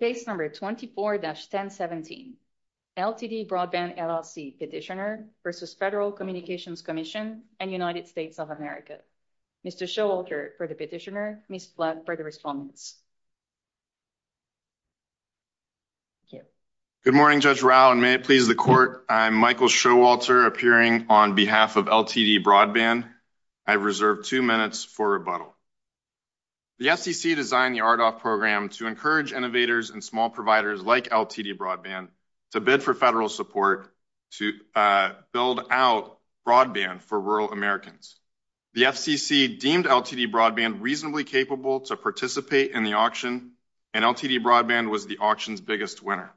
Case No. 24-1017, LTD Broadband, LLC Petitioner vs. Federal Communications Commission and United States of America. Mr. Showalter for the petitioner, Ms. Flatt for the respondents. Good morning, Judge Rao, and may it please the Court, I'm Michael Showalter, appearing on behalf of LTD Broadband. I reserve two minutes for rebuttal. The FCC designed the RDOF program to encourage innovators and small providers like LTD Broadband to bid for federal support to build out broadband for rural Americans. The FCC deemed LTD Broadband reasonably capable to participate in the auction, and LTD Broadband was the auction's biggest winner.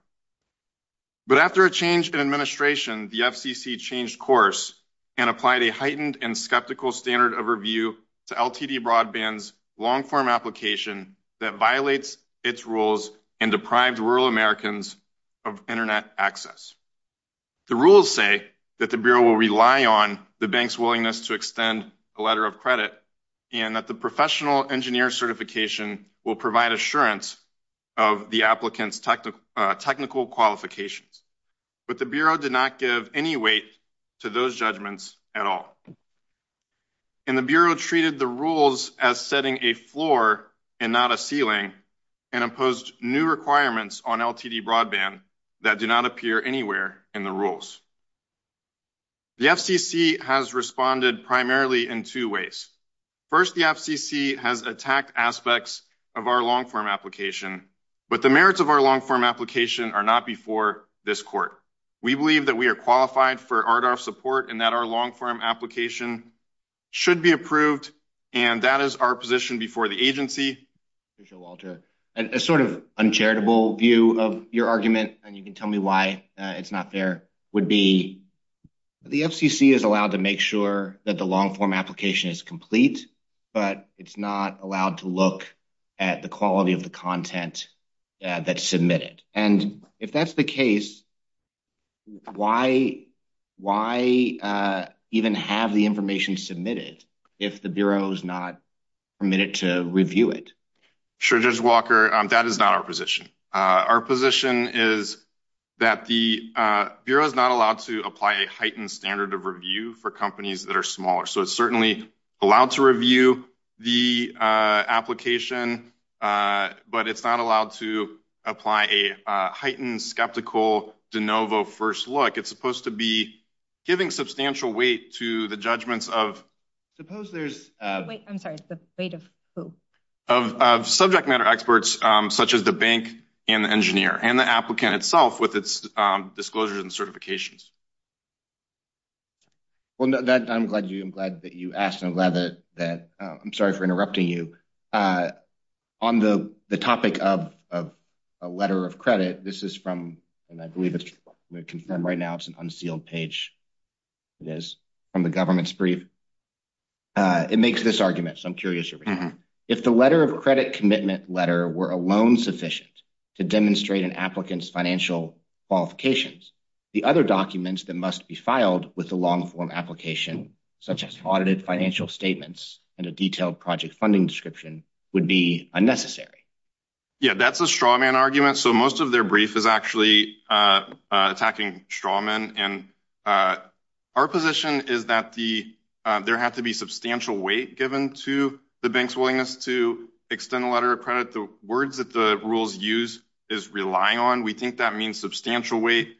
But after a change in administration, the FCC changed course and applied a heightened and skeptical standard of review to LTD Broadband's long-form application that violates its rules and deprived rural Americans of Internet access. The rules say that the Bureau will rely on the bank's willingness to extend a letter of credit and that the professional engineer certification will provide assurance of the applicant's technical qualifications. But the Bureau did not give any weight to those judgments at all. And the Bureau treated the rules as setting a floor and not a ceiling and imposed new requirements on LTD Broadband that do not appear anywhere in the rules. The FCC has responded primarily in two ways. First, the FCC has attacked aspects of our long-form application, but the merits of our long-form application are not before this Court. We believe that we are qualified for RDoF support and that our long-form application should be approved, and that is our position before the agency. A sort of uncharitable view of your argument, and you can tell me why it's not fair, would be the FCC is allowed to make sure that the long-form application is complete, but it's not allowed to look at the quality of the content that's submitted. And if that's the case, why even have the information submitted if the Bureau is not permitted to review it? Sure, Judge Walker, that is not our position. Our position is that the Bureau is not allowed to apply a heightened standard of review for companies that are smaller. So it's certainly allowed to review the application, but it's not allowed to apply a heightened skeptical de novo first look. It's supposed to be giving substantial weight to the judgments of subject matter experts, such as the bank and the engineer and the applicant itself, with its disclosures and certifications. I'm glad that you asked, and I'm sorry for interrupting you. On the topic of a letter of credit, this is from, and I believe it's confirmed right now, it's an unsealed page. It is from the government's brief. It makes this argument, so I'm curious. If the letter of credit commitment letter were alone sufficient to demonstrate an applicant's financial qualifications, the other documents that must be filed with the long-form application, such as audited financial statements and a detailed project funding description, would be unnecessary. Yeah, that's a straw man argument. So most of their brief is actually attacking straw men, and our position is that there had to be substantial weight given to the bank's willingness to extend a letter of credit. The words that the rules use is rely on. We think that means substantial weight.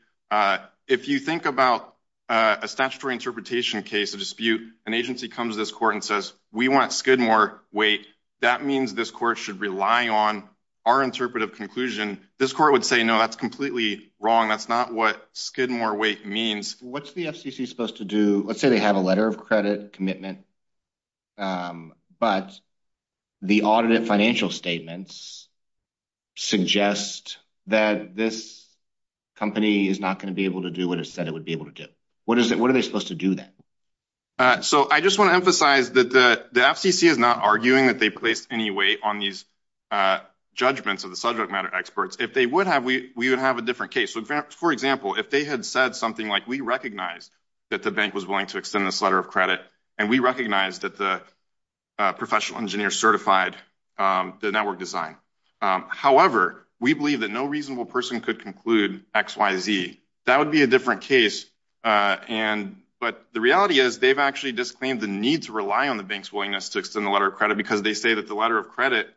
If you think about a statutory interpretation case of dispute, an agency comes to this court and says, we want skid more weight. That means this court should rely on our interpretive conclusion. This court would say, no, that's completely wrong. That's not what skid more weight means. What's the FCC supposed to do? Let's say they have a letter of credit commitment, but the audited financial statements suggest that this company is not going to be able to do what it said it would be able to do. What are they supposed to do then? So I just want to emphasize that the FCC is not arguing that they placed any weight on these judgments of the subject matter experts. If they would have, we would have a different case. For example, if they had said something like, we recognize that the bank was willing to extend this letter of credit, and we recognize that the professional engineer certified the network design. However, we believe that no reasonable person could conclude X, Y, Z. That would be a different case, but the reality is they've actually disclaimed the need to rely on the bank's willingness to extend the letter of credit because they say that the letter of credit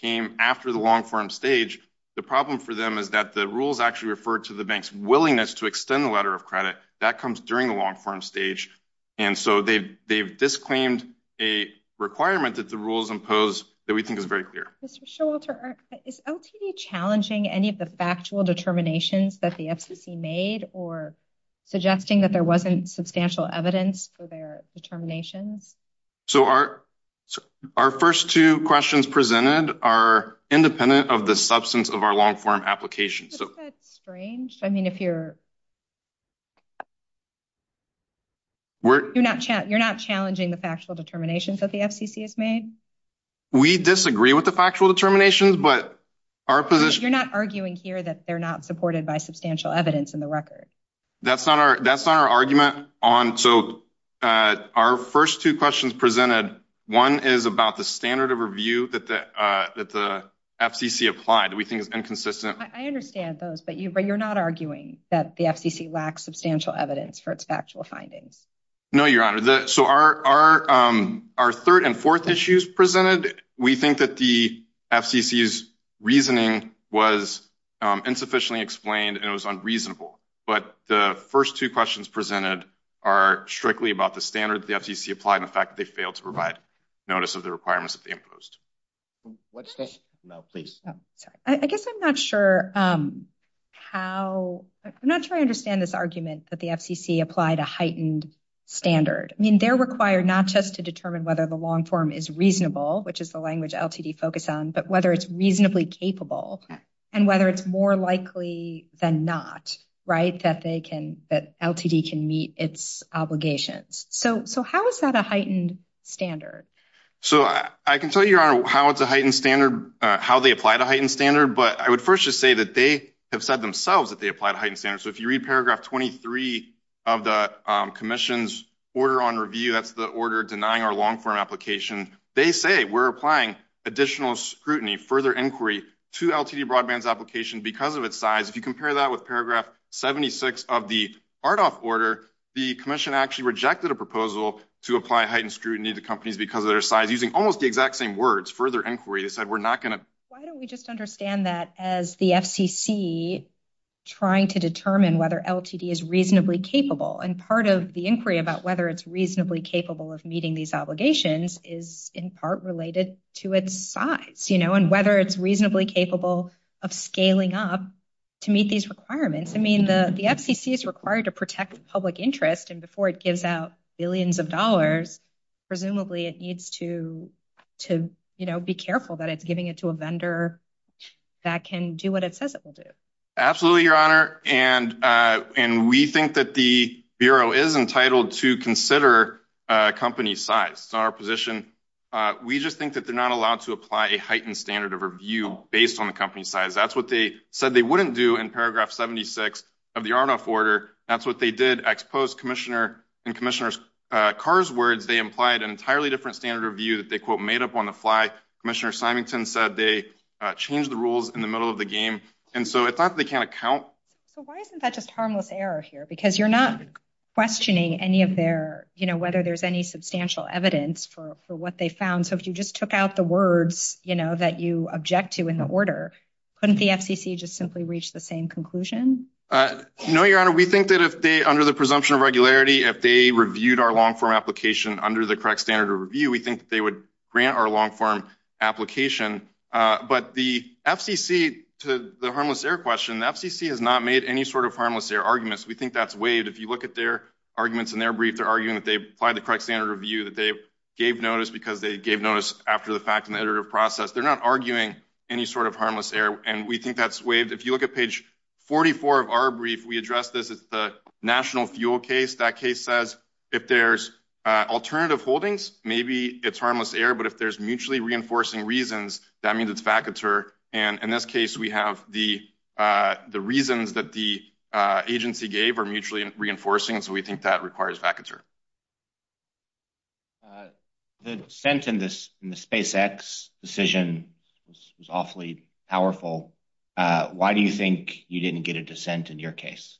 came after the long-form stage. The problem for them is that the rules actually refer to the bank's willingness to extend the letter of credit. That comes during the long-form stage, and so they've disclaimed a requirement that the rules impose that we think is very clear. Mr. Showalter, is LTD challenging any of the factual determinations that the FCC made or suggesting that there wasn't substantial evidence for their determinations? Our first two questions presented are independent of the substance of our long-form application. Isn't that strange? I mean, you're not challenging the factual determinations that the FCC has made? We disagree with the factual determinations, but our position— You're not arguing here that they're not supported by substantial evidence in the record. That's not our argument. So our first two questions presented, one is about the standard of review that the FCC applied that we think is inconsistent. I understand those, but you're not arguing that the FCC lacks substantial evidence for its factual findings. No, Your Honor. So our third and fourth issues presented, we think that the FCC's reasoning was insufficiently explained and it was unreasonable. But the first two questions presented are strictly about the standard that the FCC applied and the fact that they failed to provide notice of the requirements that they imposed. I guess I'm not sure how—I'm not sure I understand this argument that the FCC applied a heightened standard. I mean, they're required not just to determine whether the long-form is reasonable, which is the language LTD focused on, but whether it's reasonably capable, and whether it's more likely than not, right, that they can—that LTD can meet its obligations. So how is that a heightened standard? So I can tell you, Your Honor, how it's a heightened standard, how they applied a heightened standard, but I would first just say that they have said themselves that they applied a heightened standard. So if you read paragraph 23 of the commission's order on review, that's the order denying our long-form application, they say we're applying additional scrutiny, further inquiry to LTD broadband's application because of its size. If you compare that with paragraph 76 of the RDOF order, the commission actually rejected a proposal to apply heightened scrutiny to companies because of their size, using almost the exact same words, further inquiry. They said we're not going to— Why don't we just understand that as the FCC trying to determine whether LTD is reasonably capable, and part of the inquiry about whether it's reasonably capable of meeting these obligations is in part related to its size, you know, and whether it's reasonably capable of scaling up to meet these requirements. I mean, the FCC is required to protect the public interest, and before it gives out billions of dollars, presumably it needs to, you know, be careful that it's giving it to a vendor that can do what it says it will do. Absolutely, Your Honor, and we think that the Bureau is entitled to consider a company's size. It's our position. We just think that they're not allowed to apply a heightened standard of review based on the company's size. That's what they said they wouldn't do in paragraph 76 of the RDOF order. That's what they did. Ex post, Commissioner—in Commissioner Carr's words, they implied an entirely different standard of review that they, quote, made up on the fly. Commissioner Symington said they changed the rules in the middle of the game. And so it's not that they can't account. So why isn't that just harmless error here? Because you're not questioning any of their, you know, whether there's any substantial evidence for what they found. So if you just took out the words, you know, that you object to in the order, couldn't the FCC just simply reach the same conclusion? No, Your Honor. We think that if they, under the presumption of regularity, if they reviewed our long-form application under the correct standard of review, we think that they would grant our long-form application. But the FCC, to the harmless error question, the FCC has not made any sort of harmless error arguments. We think that's waived. If you look at their arguments in their brief, they're arguing that they applied the correct standard of review, that they gave notice because they gave notice after the fact in the iterative process. They're not arguing any sort of harmless error. And we think that's waived. If you look at page 44 of our brief, we address this as the national fuel case. That case says if there's alternative holdings, maybe it's harmless error. But if there's mutually reinforcing reasons, that means it's vacateur. And in this case, we have the reasons that the agency gave are mutually reinforcing. So we think that requires vacateur. The dissent in the SpaceX decision was awfully powerful. Why do you think you didn't get a dissent in your case?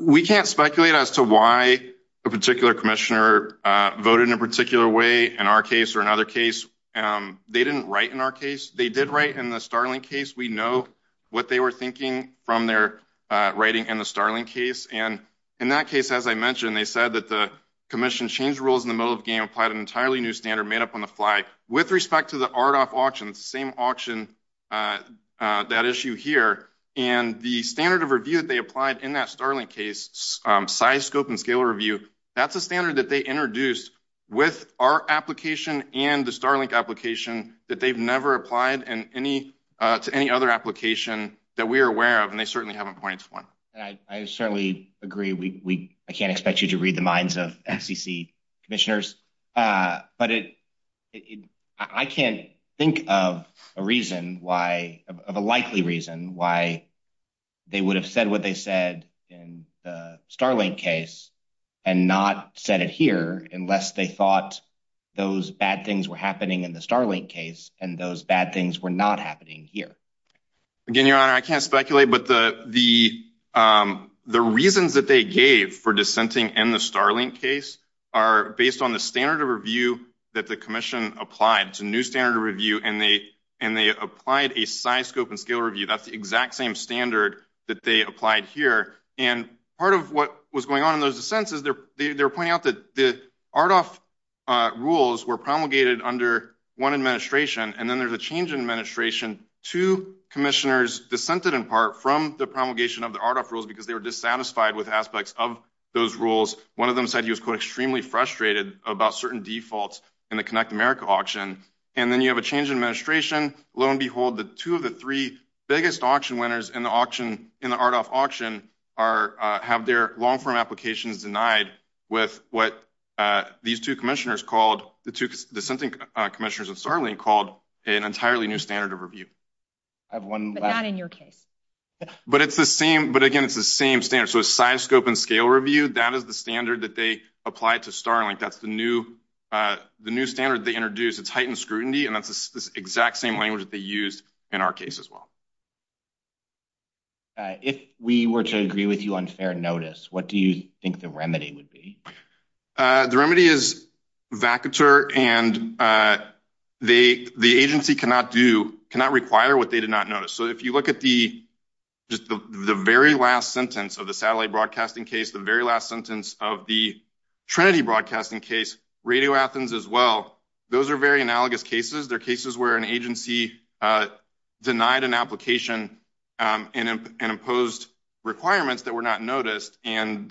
We can't speculate as to why a particular commissioner voted in a particular way in our case or another case. They didn't write in our case. They did write in the Starlink case. We know what they were thinking from their writing in the Starlink case. And in that case, as I mentioned, they said that the commission changed rules in the middle of the game, applied an entirely new standard made up on the fly. With respect to the RDOF auction, it's the same auction, that issue here. And the standard of review that they applied in that Starlink case, size, scope, and scale review, that's a standard that they introduced with our application and the Starlink application that they've never applied to any other application that we are aware of. And they certainly haven't pointed to one. I certainly agree. I can't expect you to read the minds of FCC commissioners. But I can't think of a reason why, of a likely reason why they would have said what they said in the Starlink case and not said it here unless they thought those bad things were happening in the Starlink case and those bad things were not happening here. Again, Your Honor, I can't speculate. But the reasons that they gave for dissenting in the Starlink case are based on the standard of review that the commission applied. It's a new standard of review, and they applied a size, scope, and scale review. That's the exact same standard that they applied here. And part of what was going on in those dissents is they were pointing out that the RDOF rules were promulgated under one administration, and then there's a change in administration. Two commissioners dissented in part from the promulgation of the RDOF rules because they were dissatisfied with aspects of those rules. One of them said he was, quote, extremely frustrated about certain defaults in the Connect America auction. And then you have a change in administration. Lo and behold, the two of the three biggest auction winners in the RDOF auction have their long-form applications denied with what these two commissioners called the two dissenting commissioners of Starlink called an entirely new standard of review. But not in your case. But, again, it's the same standard. So a size, scope, and scale review, that is the standard that they applied to Starlink. That's the new standard they introduced. It's heightened scrutiny, and that's the exact same language that they used in our case as well. If we were to agree with you on fair notice, what do you think the remedy would be? The remedy is vacateur, and the agency cannot require what they did not notice. So if you look at the very last sentence of the satellite broadcasting case, the very last sentence of the Trinity broadcasting case, Radio Athens as well, those are very analogous cases. They're cases where an agency denied an application and imposed requirements that were not noticed. I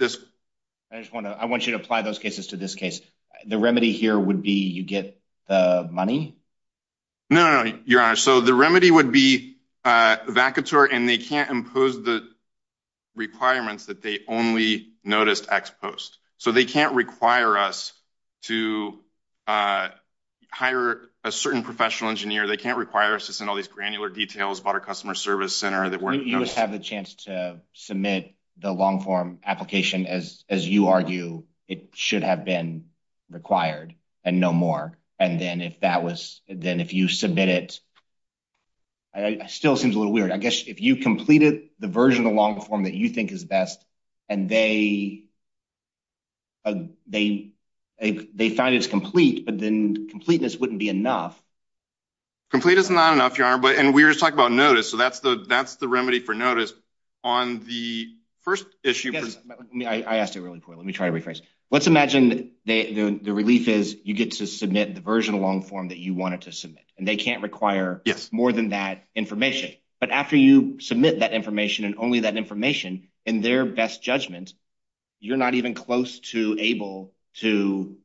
want you to apply those cases to this case. The remedy here would be you get the money? No, no, no, Your Honor. So the remedy would be vacateur, and they can't impose the requirements that they only noticed ex post. So they can't require us to hire a certain professional engineer. They can't require us to send all these granular details about our customer service center that weren't noticed. You would have the chance to submit the long-form application as you argue it should have been required and no more. And then if you submit it, it still seems a little weird. I guess if you completed the version of the long-form that you think is best and they find it's complete, but then completeness wouldn't be enough. Complete is not enough, Your Honor. And we were just talking about notice, so that's the remedy for notice. I asked it really poorly. Let me try to rephrase. Let's imagine the relief is you get to submit the version of long-form that you wanted to submit, and they can't require more than that information. But after you submit that information and only that information in their best judgment, you're not even close to able to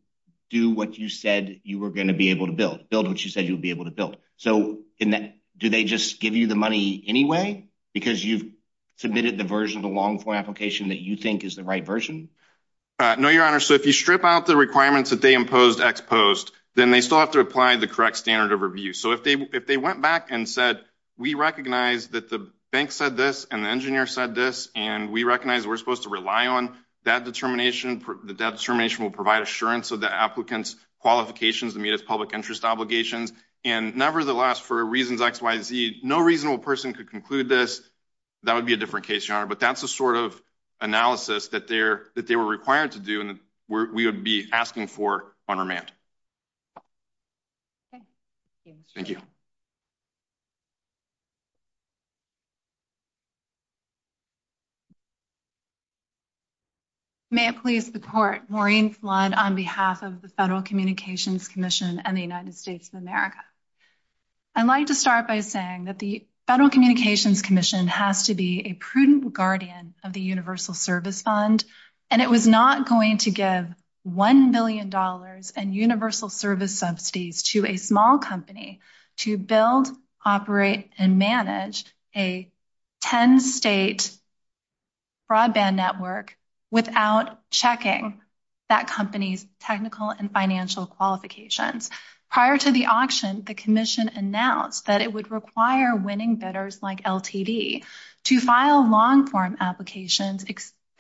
do what you said you were going to be able to build, build what you said you would be able to build. So do they just give you the money anyway because you've submitted the version of the long-form application that you think is the right version? No, Your Honor. So if you strip out the requirements that they imposed ex post, then they still have to apply the correct standard of review. So if they went back and said, we recognize that the bank said this and the engineer said this, and we recognize we're supposed to rely on that determination, that determination will provide assurance of the applicant's qualifications to meet its public interest obligations. And nevertheless, for reasons X, Y, Z, no reasonable person could conclude this. That would be a different case, Your Honor. But that's the sort of analysis that they were required to do and we would be asking for on remand. Thank you. Thank you. May it please the Court. Maureen Flood on behalf of the Federal Communications Commission and the United States of America. I'd like to start by saying that the Federal Communications Commission has to be a prudent guardian of the Universal Service Fund. And it was not going to give $1 billion in universal service subsidies to a small company to build, operate, and manage a 10-state broadband network without checking that company's technical and financial qualifications. Prior to the auction, the Commission announced that it would require winning bidders like LTD to file long-form applications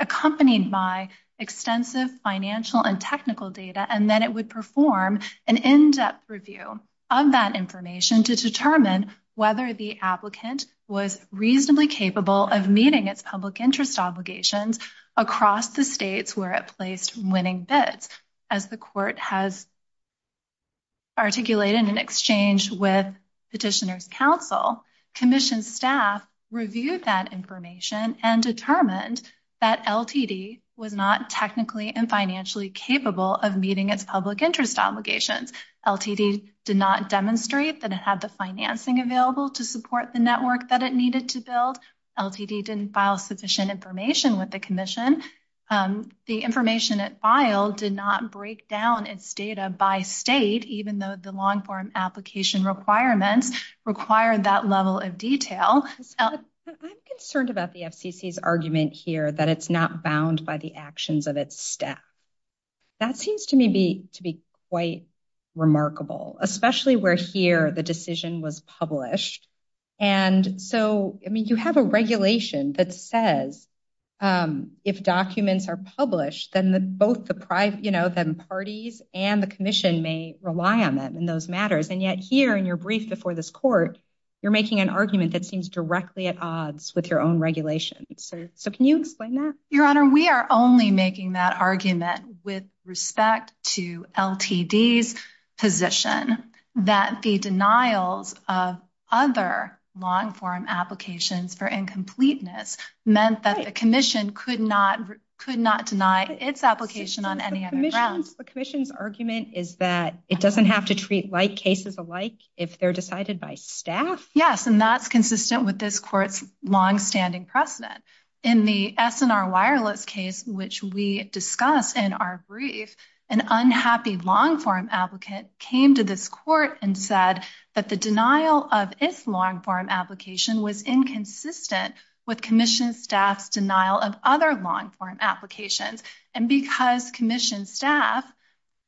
accompanied by extensive financial and technical data, and that it would perform an in-depth review of that information to determine whether the applicant was reasonably capable of meeting its public interest obligations across the states where it placed winning bids. As the Court has articulated in exchange with Petitioners' Counsel, Commission staff reviewed that information and determined that LTD was not technically and financially capable of meeting its public interest obligations. LTD did not demonstrate that it had the financing available to support the network that it needed to build. LTD didn't file sufficient information with the Commission. The information it filed did not break down its data by state, even though the long-form application requirements required that level of detail. I'm concerned about the FCC's argument here that it's not bound by the actions of its staff. That seems to me to be quite remarkable, especially where here the decision was published. And so, I mean, you have a regulation that says if documents are published, then both the parties and the Commission may rely on them in those matters. And yet here in your brief before this Court, you're making an argument that seems directly at odds with your own regulation. So can you explain that? Your Honor, we are only making that argument with respect to LTD's position that the denials of other long-form applications for incompleteness meant that the Commission could not deny its application on any other grounds. The Commission's argument is that it doesn't have to treat like cases alike if they're decided by staff? Yes, and that's consistent with this Court's longstanding precedent. In the SNR Wireless case, which we discussed in our brief, an unhappy long-form applicant came to this Court and said that the denial of its long-form application was inconsistent with Commission staff's denial of other long-form applications. And because Commission staff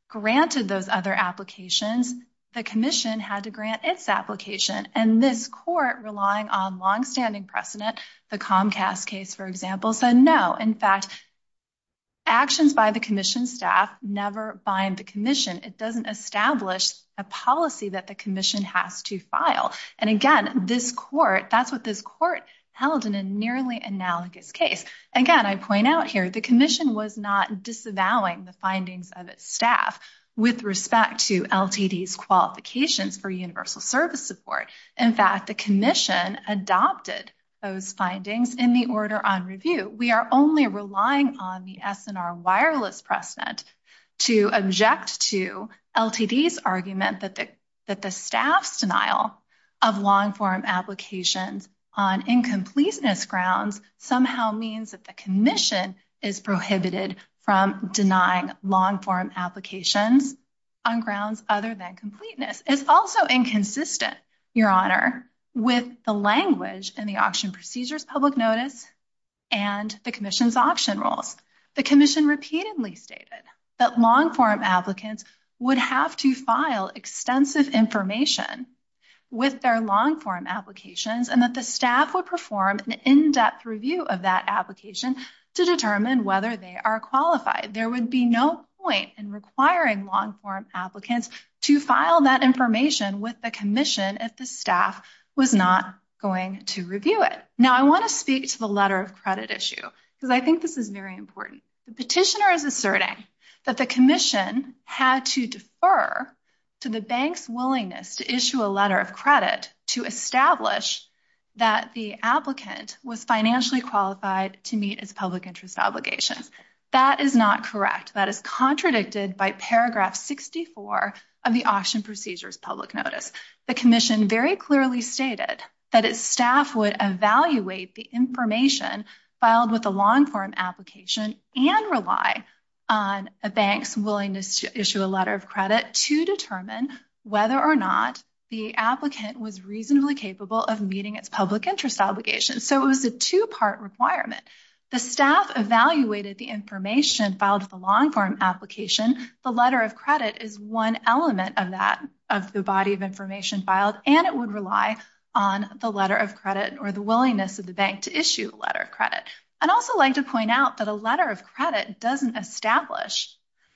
granted those other applications, the Commission had to grant its application. And this Court, relying on longstanding precedent, the Comcast case, for example, said no. In fact, actions by the Commission staff never bind the Commission. It doesn't establish a policy that the Commission has to file. And again, this Court, that's what this Court held in a nearly analogous case. Again, I point out here, the Commission was not disavowing the findings of its staff with respect to LTD's qualifications for universal service support. In fact, the Commission adopted those findings in the order on review. We are only relying on the SNR Wireless precedent to object to LTD's argument that the staff's denial of long-form applications on incompleteness grounds somehow means that the Commission is prohibited from denying long-form applications on grounds other than completeness. This is also inconsistent, Your Honor, with the language in the Auction Procedures Public Notice and the Commission's auction rules. The Commission repeatedly stated that long-form applicants would have to file extensive information with their long-form applications and that the staff would perform an in-depth review of that application to determine whether they are qualified. There would be no point in requiring long-form applicants to file that information with the Commission if the staff was not going to review it. Now, I want to speak to the letter of credit issue because I think this is very important. The petitioner is asserting that the Commission had to defer to the bank's willingness to issue a letter of credit to establish that the applicant was financially qualified to meet its public interest obligations. That is not correct. That is contradicted by paragraph 64 of the Auction Procedures Public Notice. The Commission very clearly stated that its staff would evaluate the information filed with a long-form application and rely on a bank's willingness to issue a letter of credit to determine whether or not the applicant was reasonably capable of meeting its public interest obligations. So it was a two-part requirement. The staff evaluated the information filed with a long-form application. The letter of credit is one element of that, of the body of information filed, and it would rely on the letter of credit or the willingness of the bank to issue a letter of credit. I'd also like to point out that a letter of credit doesn't establish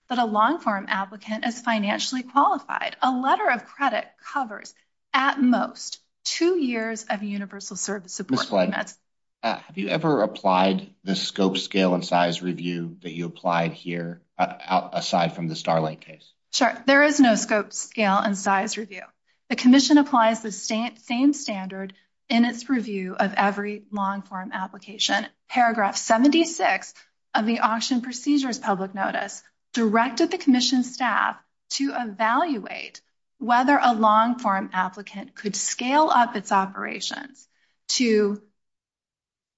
that a long-form applicant is financially qualified. A letter of credit covers, at most, two years of universal service support payments. Have you ever applied the scope, scale, and size review that you applied here, aside from the Starling case? Sure. There is no scope, scale, and size review. The Commission applies the same standard in its review of every long-form application. Paragraph 76 of the Auction Procedures Public Notice directed the Commission staff to evaluate whether a long-form applicant could scale up its operations to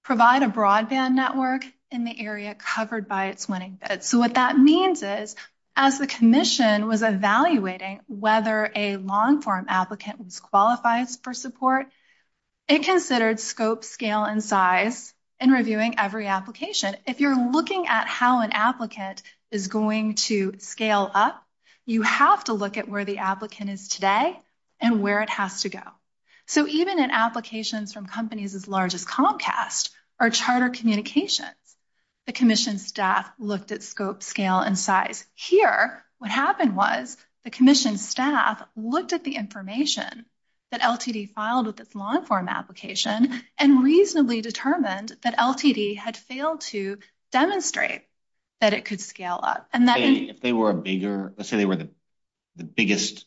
provide a broadband network in the area covered by its winning bid. So what that means is, as the Commission was evaluating whether a long-form applicant was qualified for support, it considered scope, scale, and size in reviewing every application. If you're looking at how an applicant is going to scale up, you have to look at where the applicant is today and where it has to go. So even in applications from companies as large as Comcast or Charter Communications, the Commission staff looked at scope, scale, and size. Here, what happened was the Commission staff looked at the information that LTD filed with its long-form application and reasonably determined that LTD had failed to demonstrate that it could scale up. If they were a bigger, let's say they were the biggest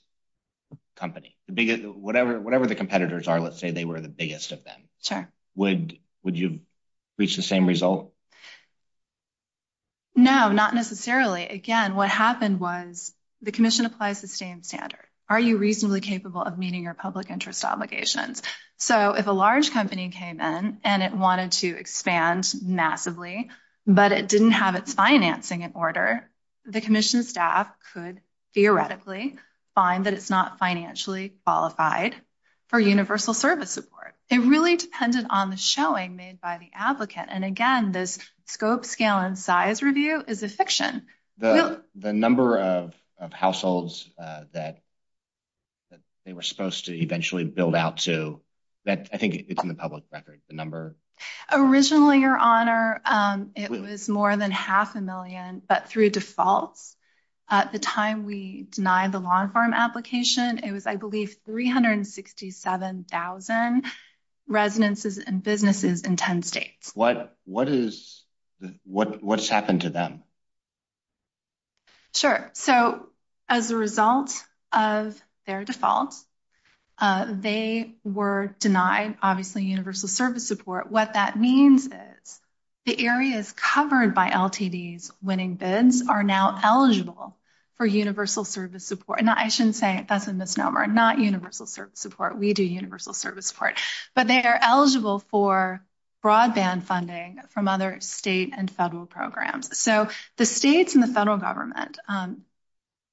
company, whatever the competitors are, let's say they were the biggest of them. Sure. Would you reach the same result? No, not necessarily. Again, what happened was the Commission applies the same standard. Are you reasonably capable of meeting your public interest obligations? So if a large company came in and it wanted to expand massively but it didn't have its financing in order, the Commission staff could theoretically find that it's not financially qualified for universal service support. It really depended on the showing made by the applicant. And again, this scope, scale, and size review is a fiction. The number of households that they were supposed to eventually build out to, I think it's in the public record, the number. Originally, Your Honor, it was more than half a million, but through defaults. At the time we denied the long-form application, it was, I believe, 367,000 residences and businesses in 10 states. What has happened to them? Sure. So as a result of their default, they were denied, obviously, universal service support. What that means is the areas covered by LTD's winning bids are now eligible for universal service support. Now, I shouldn't say that's a misnomer. Not universal service support. We do universal service support. But they are eligible for broadband funding from other state and federal programs. So the states and the federal government,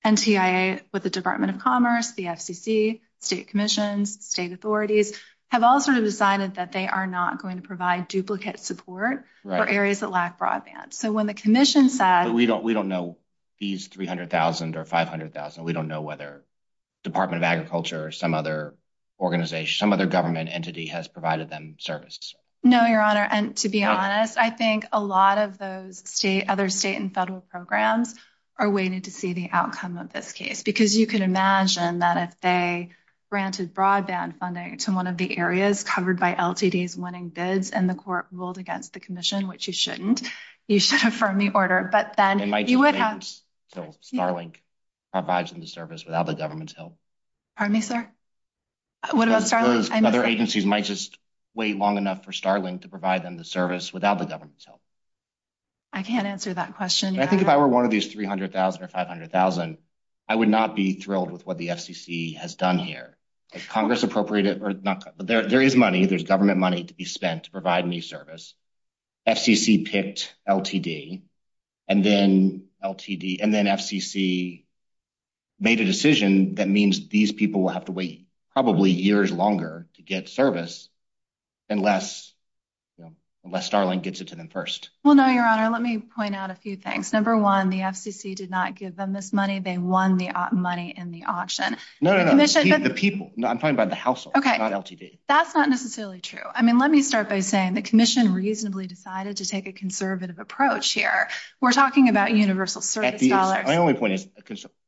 NTIA with the Department of Commerce, the FCC, state commissions, state authorities, have all sort of decided that they are not going to provide duplicate support for areas that lack broadband. But we don't know these 300,000 or 500,000. We don't know whether Department of Agriculture or some other organization, some other government entity has provided them service. No, Your Honor. And to be honest, I think a lot of those other state and federal programs are waiting to see the outcome of this case. Because you can imagine that if they granted broadband funding to one of the areas covered by LTD's winning bids and the court ruled against the commission, which you shouldn't, you should affirm the order. But then you would have to wait until Starlink provides them the service without the government's help. Pardon me, sir? What about Starlink? Those other agencies might just wait long enough for Starlink to provide them the service without the government's help. I can't answer that question, Your Honor. Even if I were one of these 300,000 or 500,000, I would not be thrilled with what the FCC has done here. If Congress appropriated – there is money, there's government money to be spent to provide new service. FCC picked LTD and then LTD – and then FCC made a decision that means these people will have to wait probably years longer to get service unless Starlink gets it to them first. Well, no, Your Honor. Let me point out a few things. Number one, the FCC did not give them this money. They won the money in the auction. No, no, no. The people. I'm talking about the household, not LTD. That's not necessarily true. I mean, let me start by saying the commission reasonably decided to take a conservative approach here. We're talking about universal service dollars. My only point is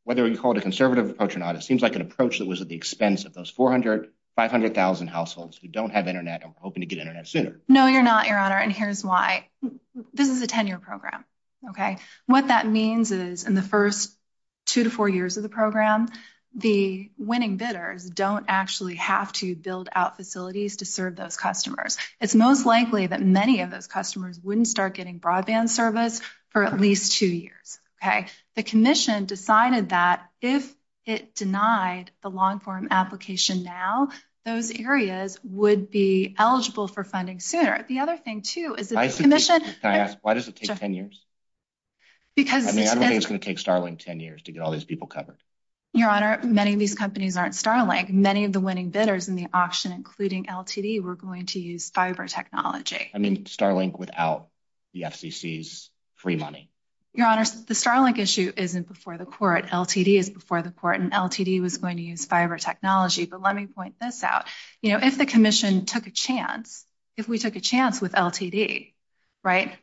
whether you call it a conservative approach or not, it seems like an approach that was at the expense of those 400,000, 500,000 households who don't have internet and are hoping to get internet sooner. No, you're not, Your Honor. And here's why. This is a 10-year program. Okay? What that means is in the first two to four years of the program, the winning bidders don't actually have to build out facilities to serve those customers. It's most likely that many of those customers wouldn't start getting broadband service for at least two years. Okay? The commission decided that if it denied the long-form application now, those areas would be eligible for funding sooner. Can I ask, why does it take 10 years? I mean, I don't think it's going to take Starlink 10 years to get all these people covered. Your Honor, many of these companies aren't Starlink. Many of the winning bidders in the auction, including LTD, were going to use fiber technology. I mean, Starlink without the FCC's free money. Your Honor, the Starlink issue isn't before the court. LTD is before the court, and LTD was going to use fiber technology. But let me point this out. You know, if the commission took a chance, if we took a chance with LTD, right,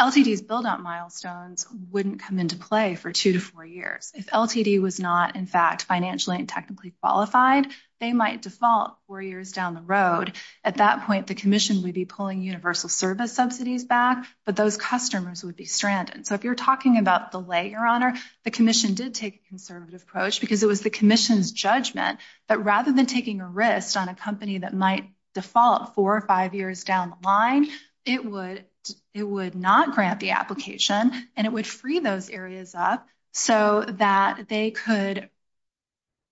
LTD's build-out milestones wouldn't come into play for two to four years. If LTD was not, in fact, financially and technically qualified, they might default four years down the road. At that point, the commission would be pulling universal service subsidies back, but those customers would be stranded. So if you're talking about delay, Your Honor, the commission did take a conservative approach because it was the commission's judgment that rather than taking a risk on a company that might default four or five years down the line, it would not grant the application. And it would free those areas up so that they could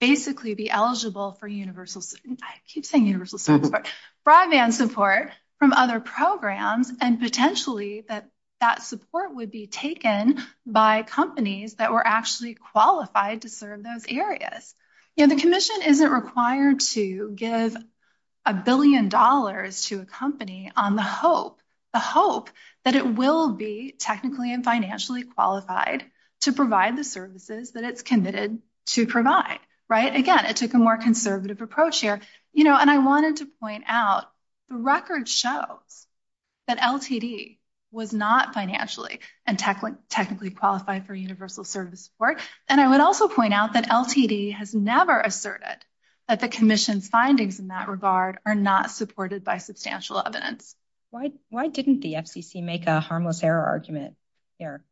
basically be eligible for universal, I keep saying universal service, but broadband support from other programs and potentially that that support would be taken by companies that were actually qualified to serve those areas. You know, the commission isn't required to give a billion dollars to a company on the hope, the hope that it will be technically and financially qualified to provide the services that it's committed to provide, right? Again, it took a more conservative approach here. You know, and I wanted to point out the record shows that LTD was not financially and technically qualified for universal service support. And I would also point out that LTD has never asserted that the commission's findings in that regard are not supported by substantial evidence. Why didn't the FCC make a harmless error argument here?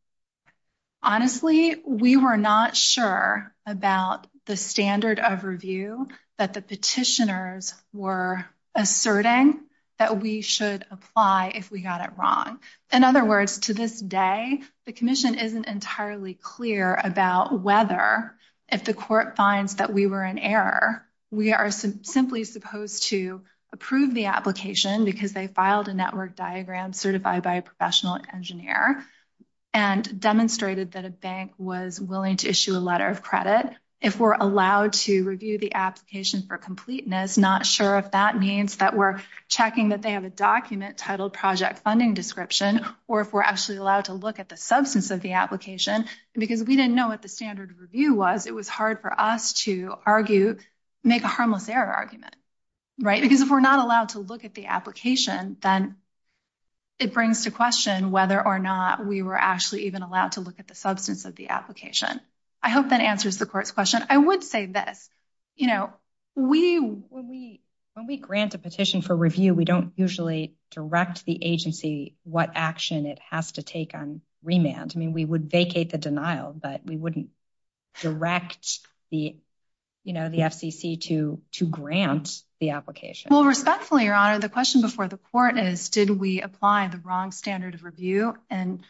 Honestly, we were not sure about the standard of review that the petitioners were asserting that we should apply if we got it wrong. In other words, to this day, the commission isn't entirely clear about whether if the court finds that we were in error, we are simply supposed to approve the application because they filed a network diagram certified by a professional engineer and demonstrated that a bank was willing to issue a letter of credit. But if we're allowed to review the application for completeness, not sure if that means that we're checking that they have a document titled project funding description, or if we're actually allowed to look at the substance of the application, because we didn't know what the standard review was, it was hard for us to argue, make a harmless error argument, right? Because if we're not allowed to look at the application, then it brings to question whether or not we were actually even allowed to look at the substance of the application. I hope that answers the court's question. I would say this, when we grant a petition for review, we don't usually direct the agency what action it has to take on remand. I mean, we would vacate the denial, but we wouldn't direct the FCC to grant the application. Well, respectfully, Your Honor, the question before the court is, did we apply the wrong standard of review in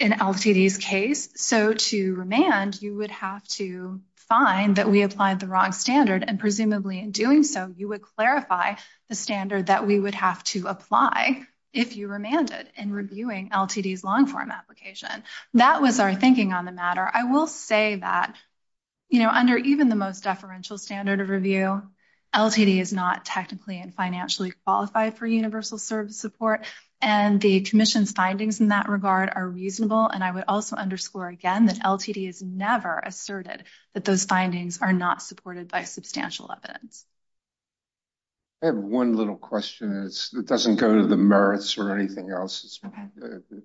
LTD's case? So to remand, you would have to find that we applied the wrong standard, and presumably in doing so, you would clarify the standard that we would have to apply if you remanded in reviewing LTD's long-form application. That was our thinking on the matter. I will say that, you know, under even the most deferential standard of review, LTD is not technically and financially qualified for universal service support, and the commission's findings in that regard are reasonable. And I would also underscore again that LTD has never asserted that those findings are not supported by substantial evidence. I have one little question. It doesn't go to the merits or anything else.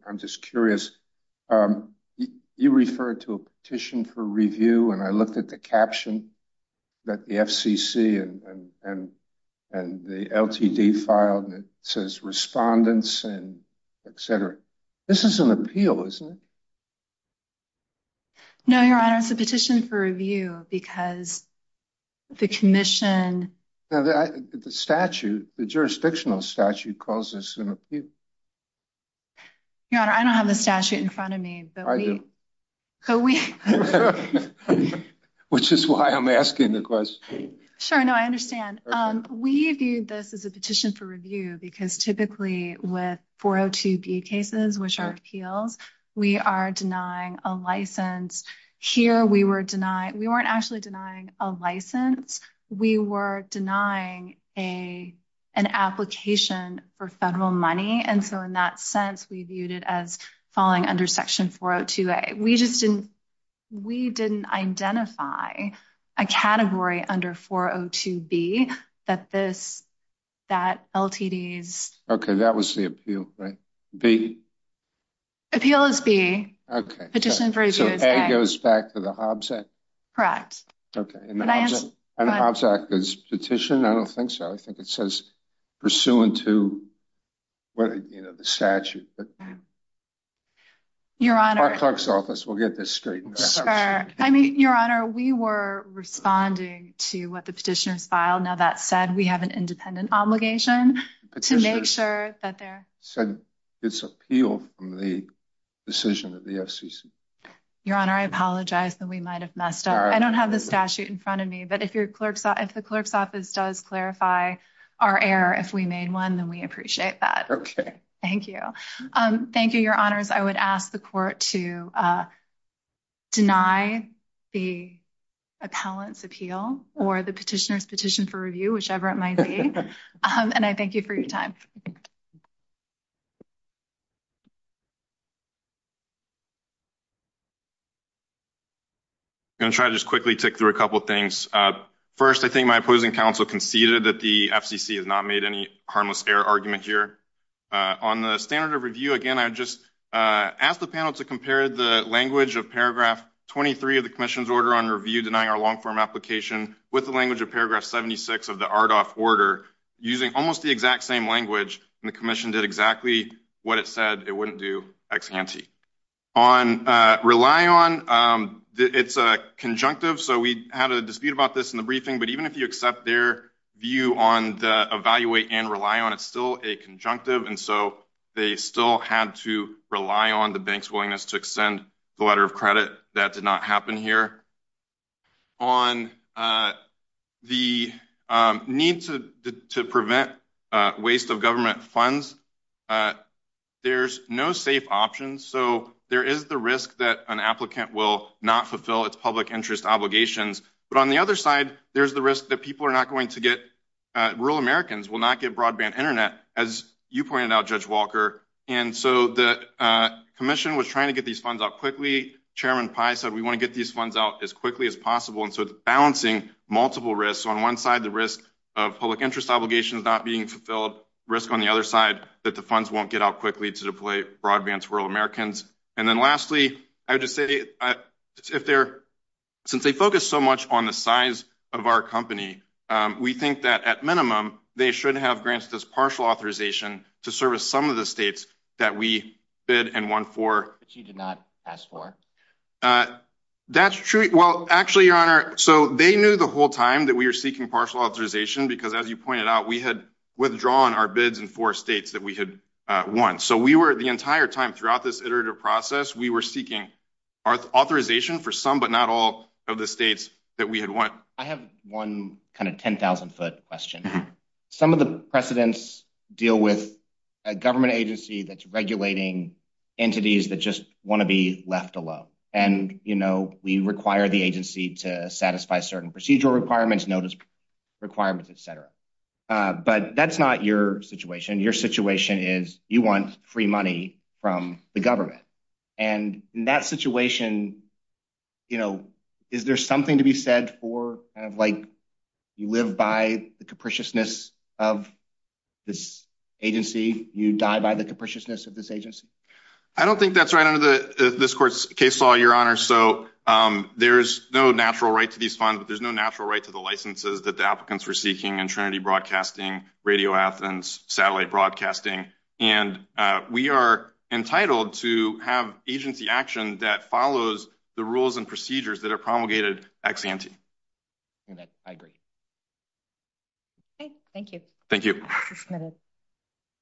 I'm just curious. You referred to a petition for review, and I looked at the caption that the FCC and the LTD filed, and it says respondents and et cetera. This is an appeal, isn't it? No, Your Honor, it's a petition for review because the commission… The statute, the jurisdictional statute calls this an appeal. Your Honor, I don't have the statute in front of me, but we… I do. Which is why I'm asking the question. Sure, no, I understand. We viewed this as a petition for review because typically with 402B cases, which are appeals, we are denying a license. Here we were denying…we weren't actually denying a license. We were denying an application for federal money, and so in that sense, we viewed it as falling under Section 402A. We just didn't…we didn't identify a category under 402B that this…that LTD's… Okay, that was the appeal, right? B? Appeal is B. Okay. Petition for review is A. So A goes back to the Hobbs Act? Correct. Okay. And the Hobbs Act is petition? I don't think so. I think it says pursuant to, you know, the statute. Your Honor… Our clerk's office will get this straight. I mean, Your Honor, we were responding to what the petitioners filed. Now that said, we have an independent obligation to make sure that they're… Petitioners said it's appeal from the decision of the FCC. Your Honor, I apologize that we might have messed up. I don't have the statute in front of me, but if the clerk's office does clarify our error, if we made one, then we appreciate that. Okay. Thank you. Thank you, Your Honors. I would ask the court to deny the appellant's appeal or the petitioner's petition for review, whichever it might be. And I thank you for your time. I'm going to try to just quickly tick through a couple things. First, I think my opposing counsel conceded that the FCC has not made any harmless error argument here. On the standard of review, again, I would just ask the panel to compare the language of paragraph 23 of the commission's order on review, denying our long-form application, with the language of paragraph 76 of the RDOF order, using almost the exact same language. And the commission did exactly what it said it wouldn't do ex ante. On rely on, it's a conjunctive, so we had a dispute about this in the briefing. But even if you accept their view on the evaluate and rely on, it's still a conjunctive, and so they still had to rely on the bank's willingness to extend the letter of credit. That did not happen here. On the need to prevent waste of government funds, there's no safe option. So there is the risk that an applicant will not fulfill its public interest obligations. But on the other side, there's the risk that people are not going to get, rural Americans will not get broadband Internet, as you pointed out, Judge Walker. And so the commission was trying to get these funds out quickly. Chairman Pai said we want to get these funds out as quickly as possible. And so it's balancing multiple risks. On one side, the risk of public interest obligations not being fulfilled, risk on the other side that the funds won't get out quickly to deploy broadband to rural Americans. And then lastly, I would just say, since they focus so much on the size of our company, we think that at minimum they should have grants as partial authorization to service some of the states that we bid and won for. But you did not ask for. That's true. Well, actually, Your Honor, so they knew the whole time that we were seeking partial authorization, because as you pointed out, we had withdrawn our bids in four states that we had won. So we were the entire time throughout this iterative process, we were seeking authorization for some but not all of the states that we had won. I have one kind of 10,000 foot question. Some of the precedents deal with a government agency that's regulating entities that just want to be left alone. And, you know, we require the agency to satisfy certain procedural requirements, notice requirements, et cetera. But that's not your situation. Your situation is you want free money from the government. And in that situation, you know, is there something to be said for kind of like you live by the capriciousness of this agency, you die by the capriciousness of this agency? I don't think that's right under this court's case law, Your Honor. So there's no natural right to these funds, but there's no natural right to the licenses that the applicants were seeking in Trinity Broadcasting, Radio Athens, Satellite Broadcasting. And we are entitled to have agency action that follows the rules and procedures that are promulgated ex ante. I agree. Thank you. Thank you.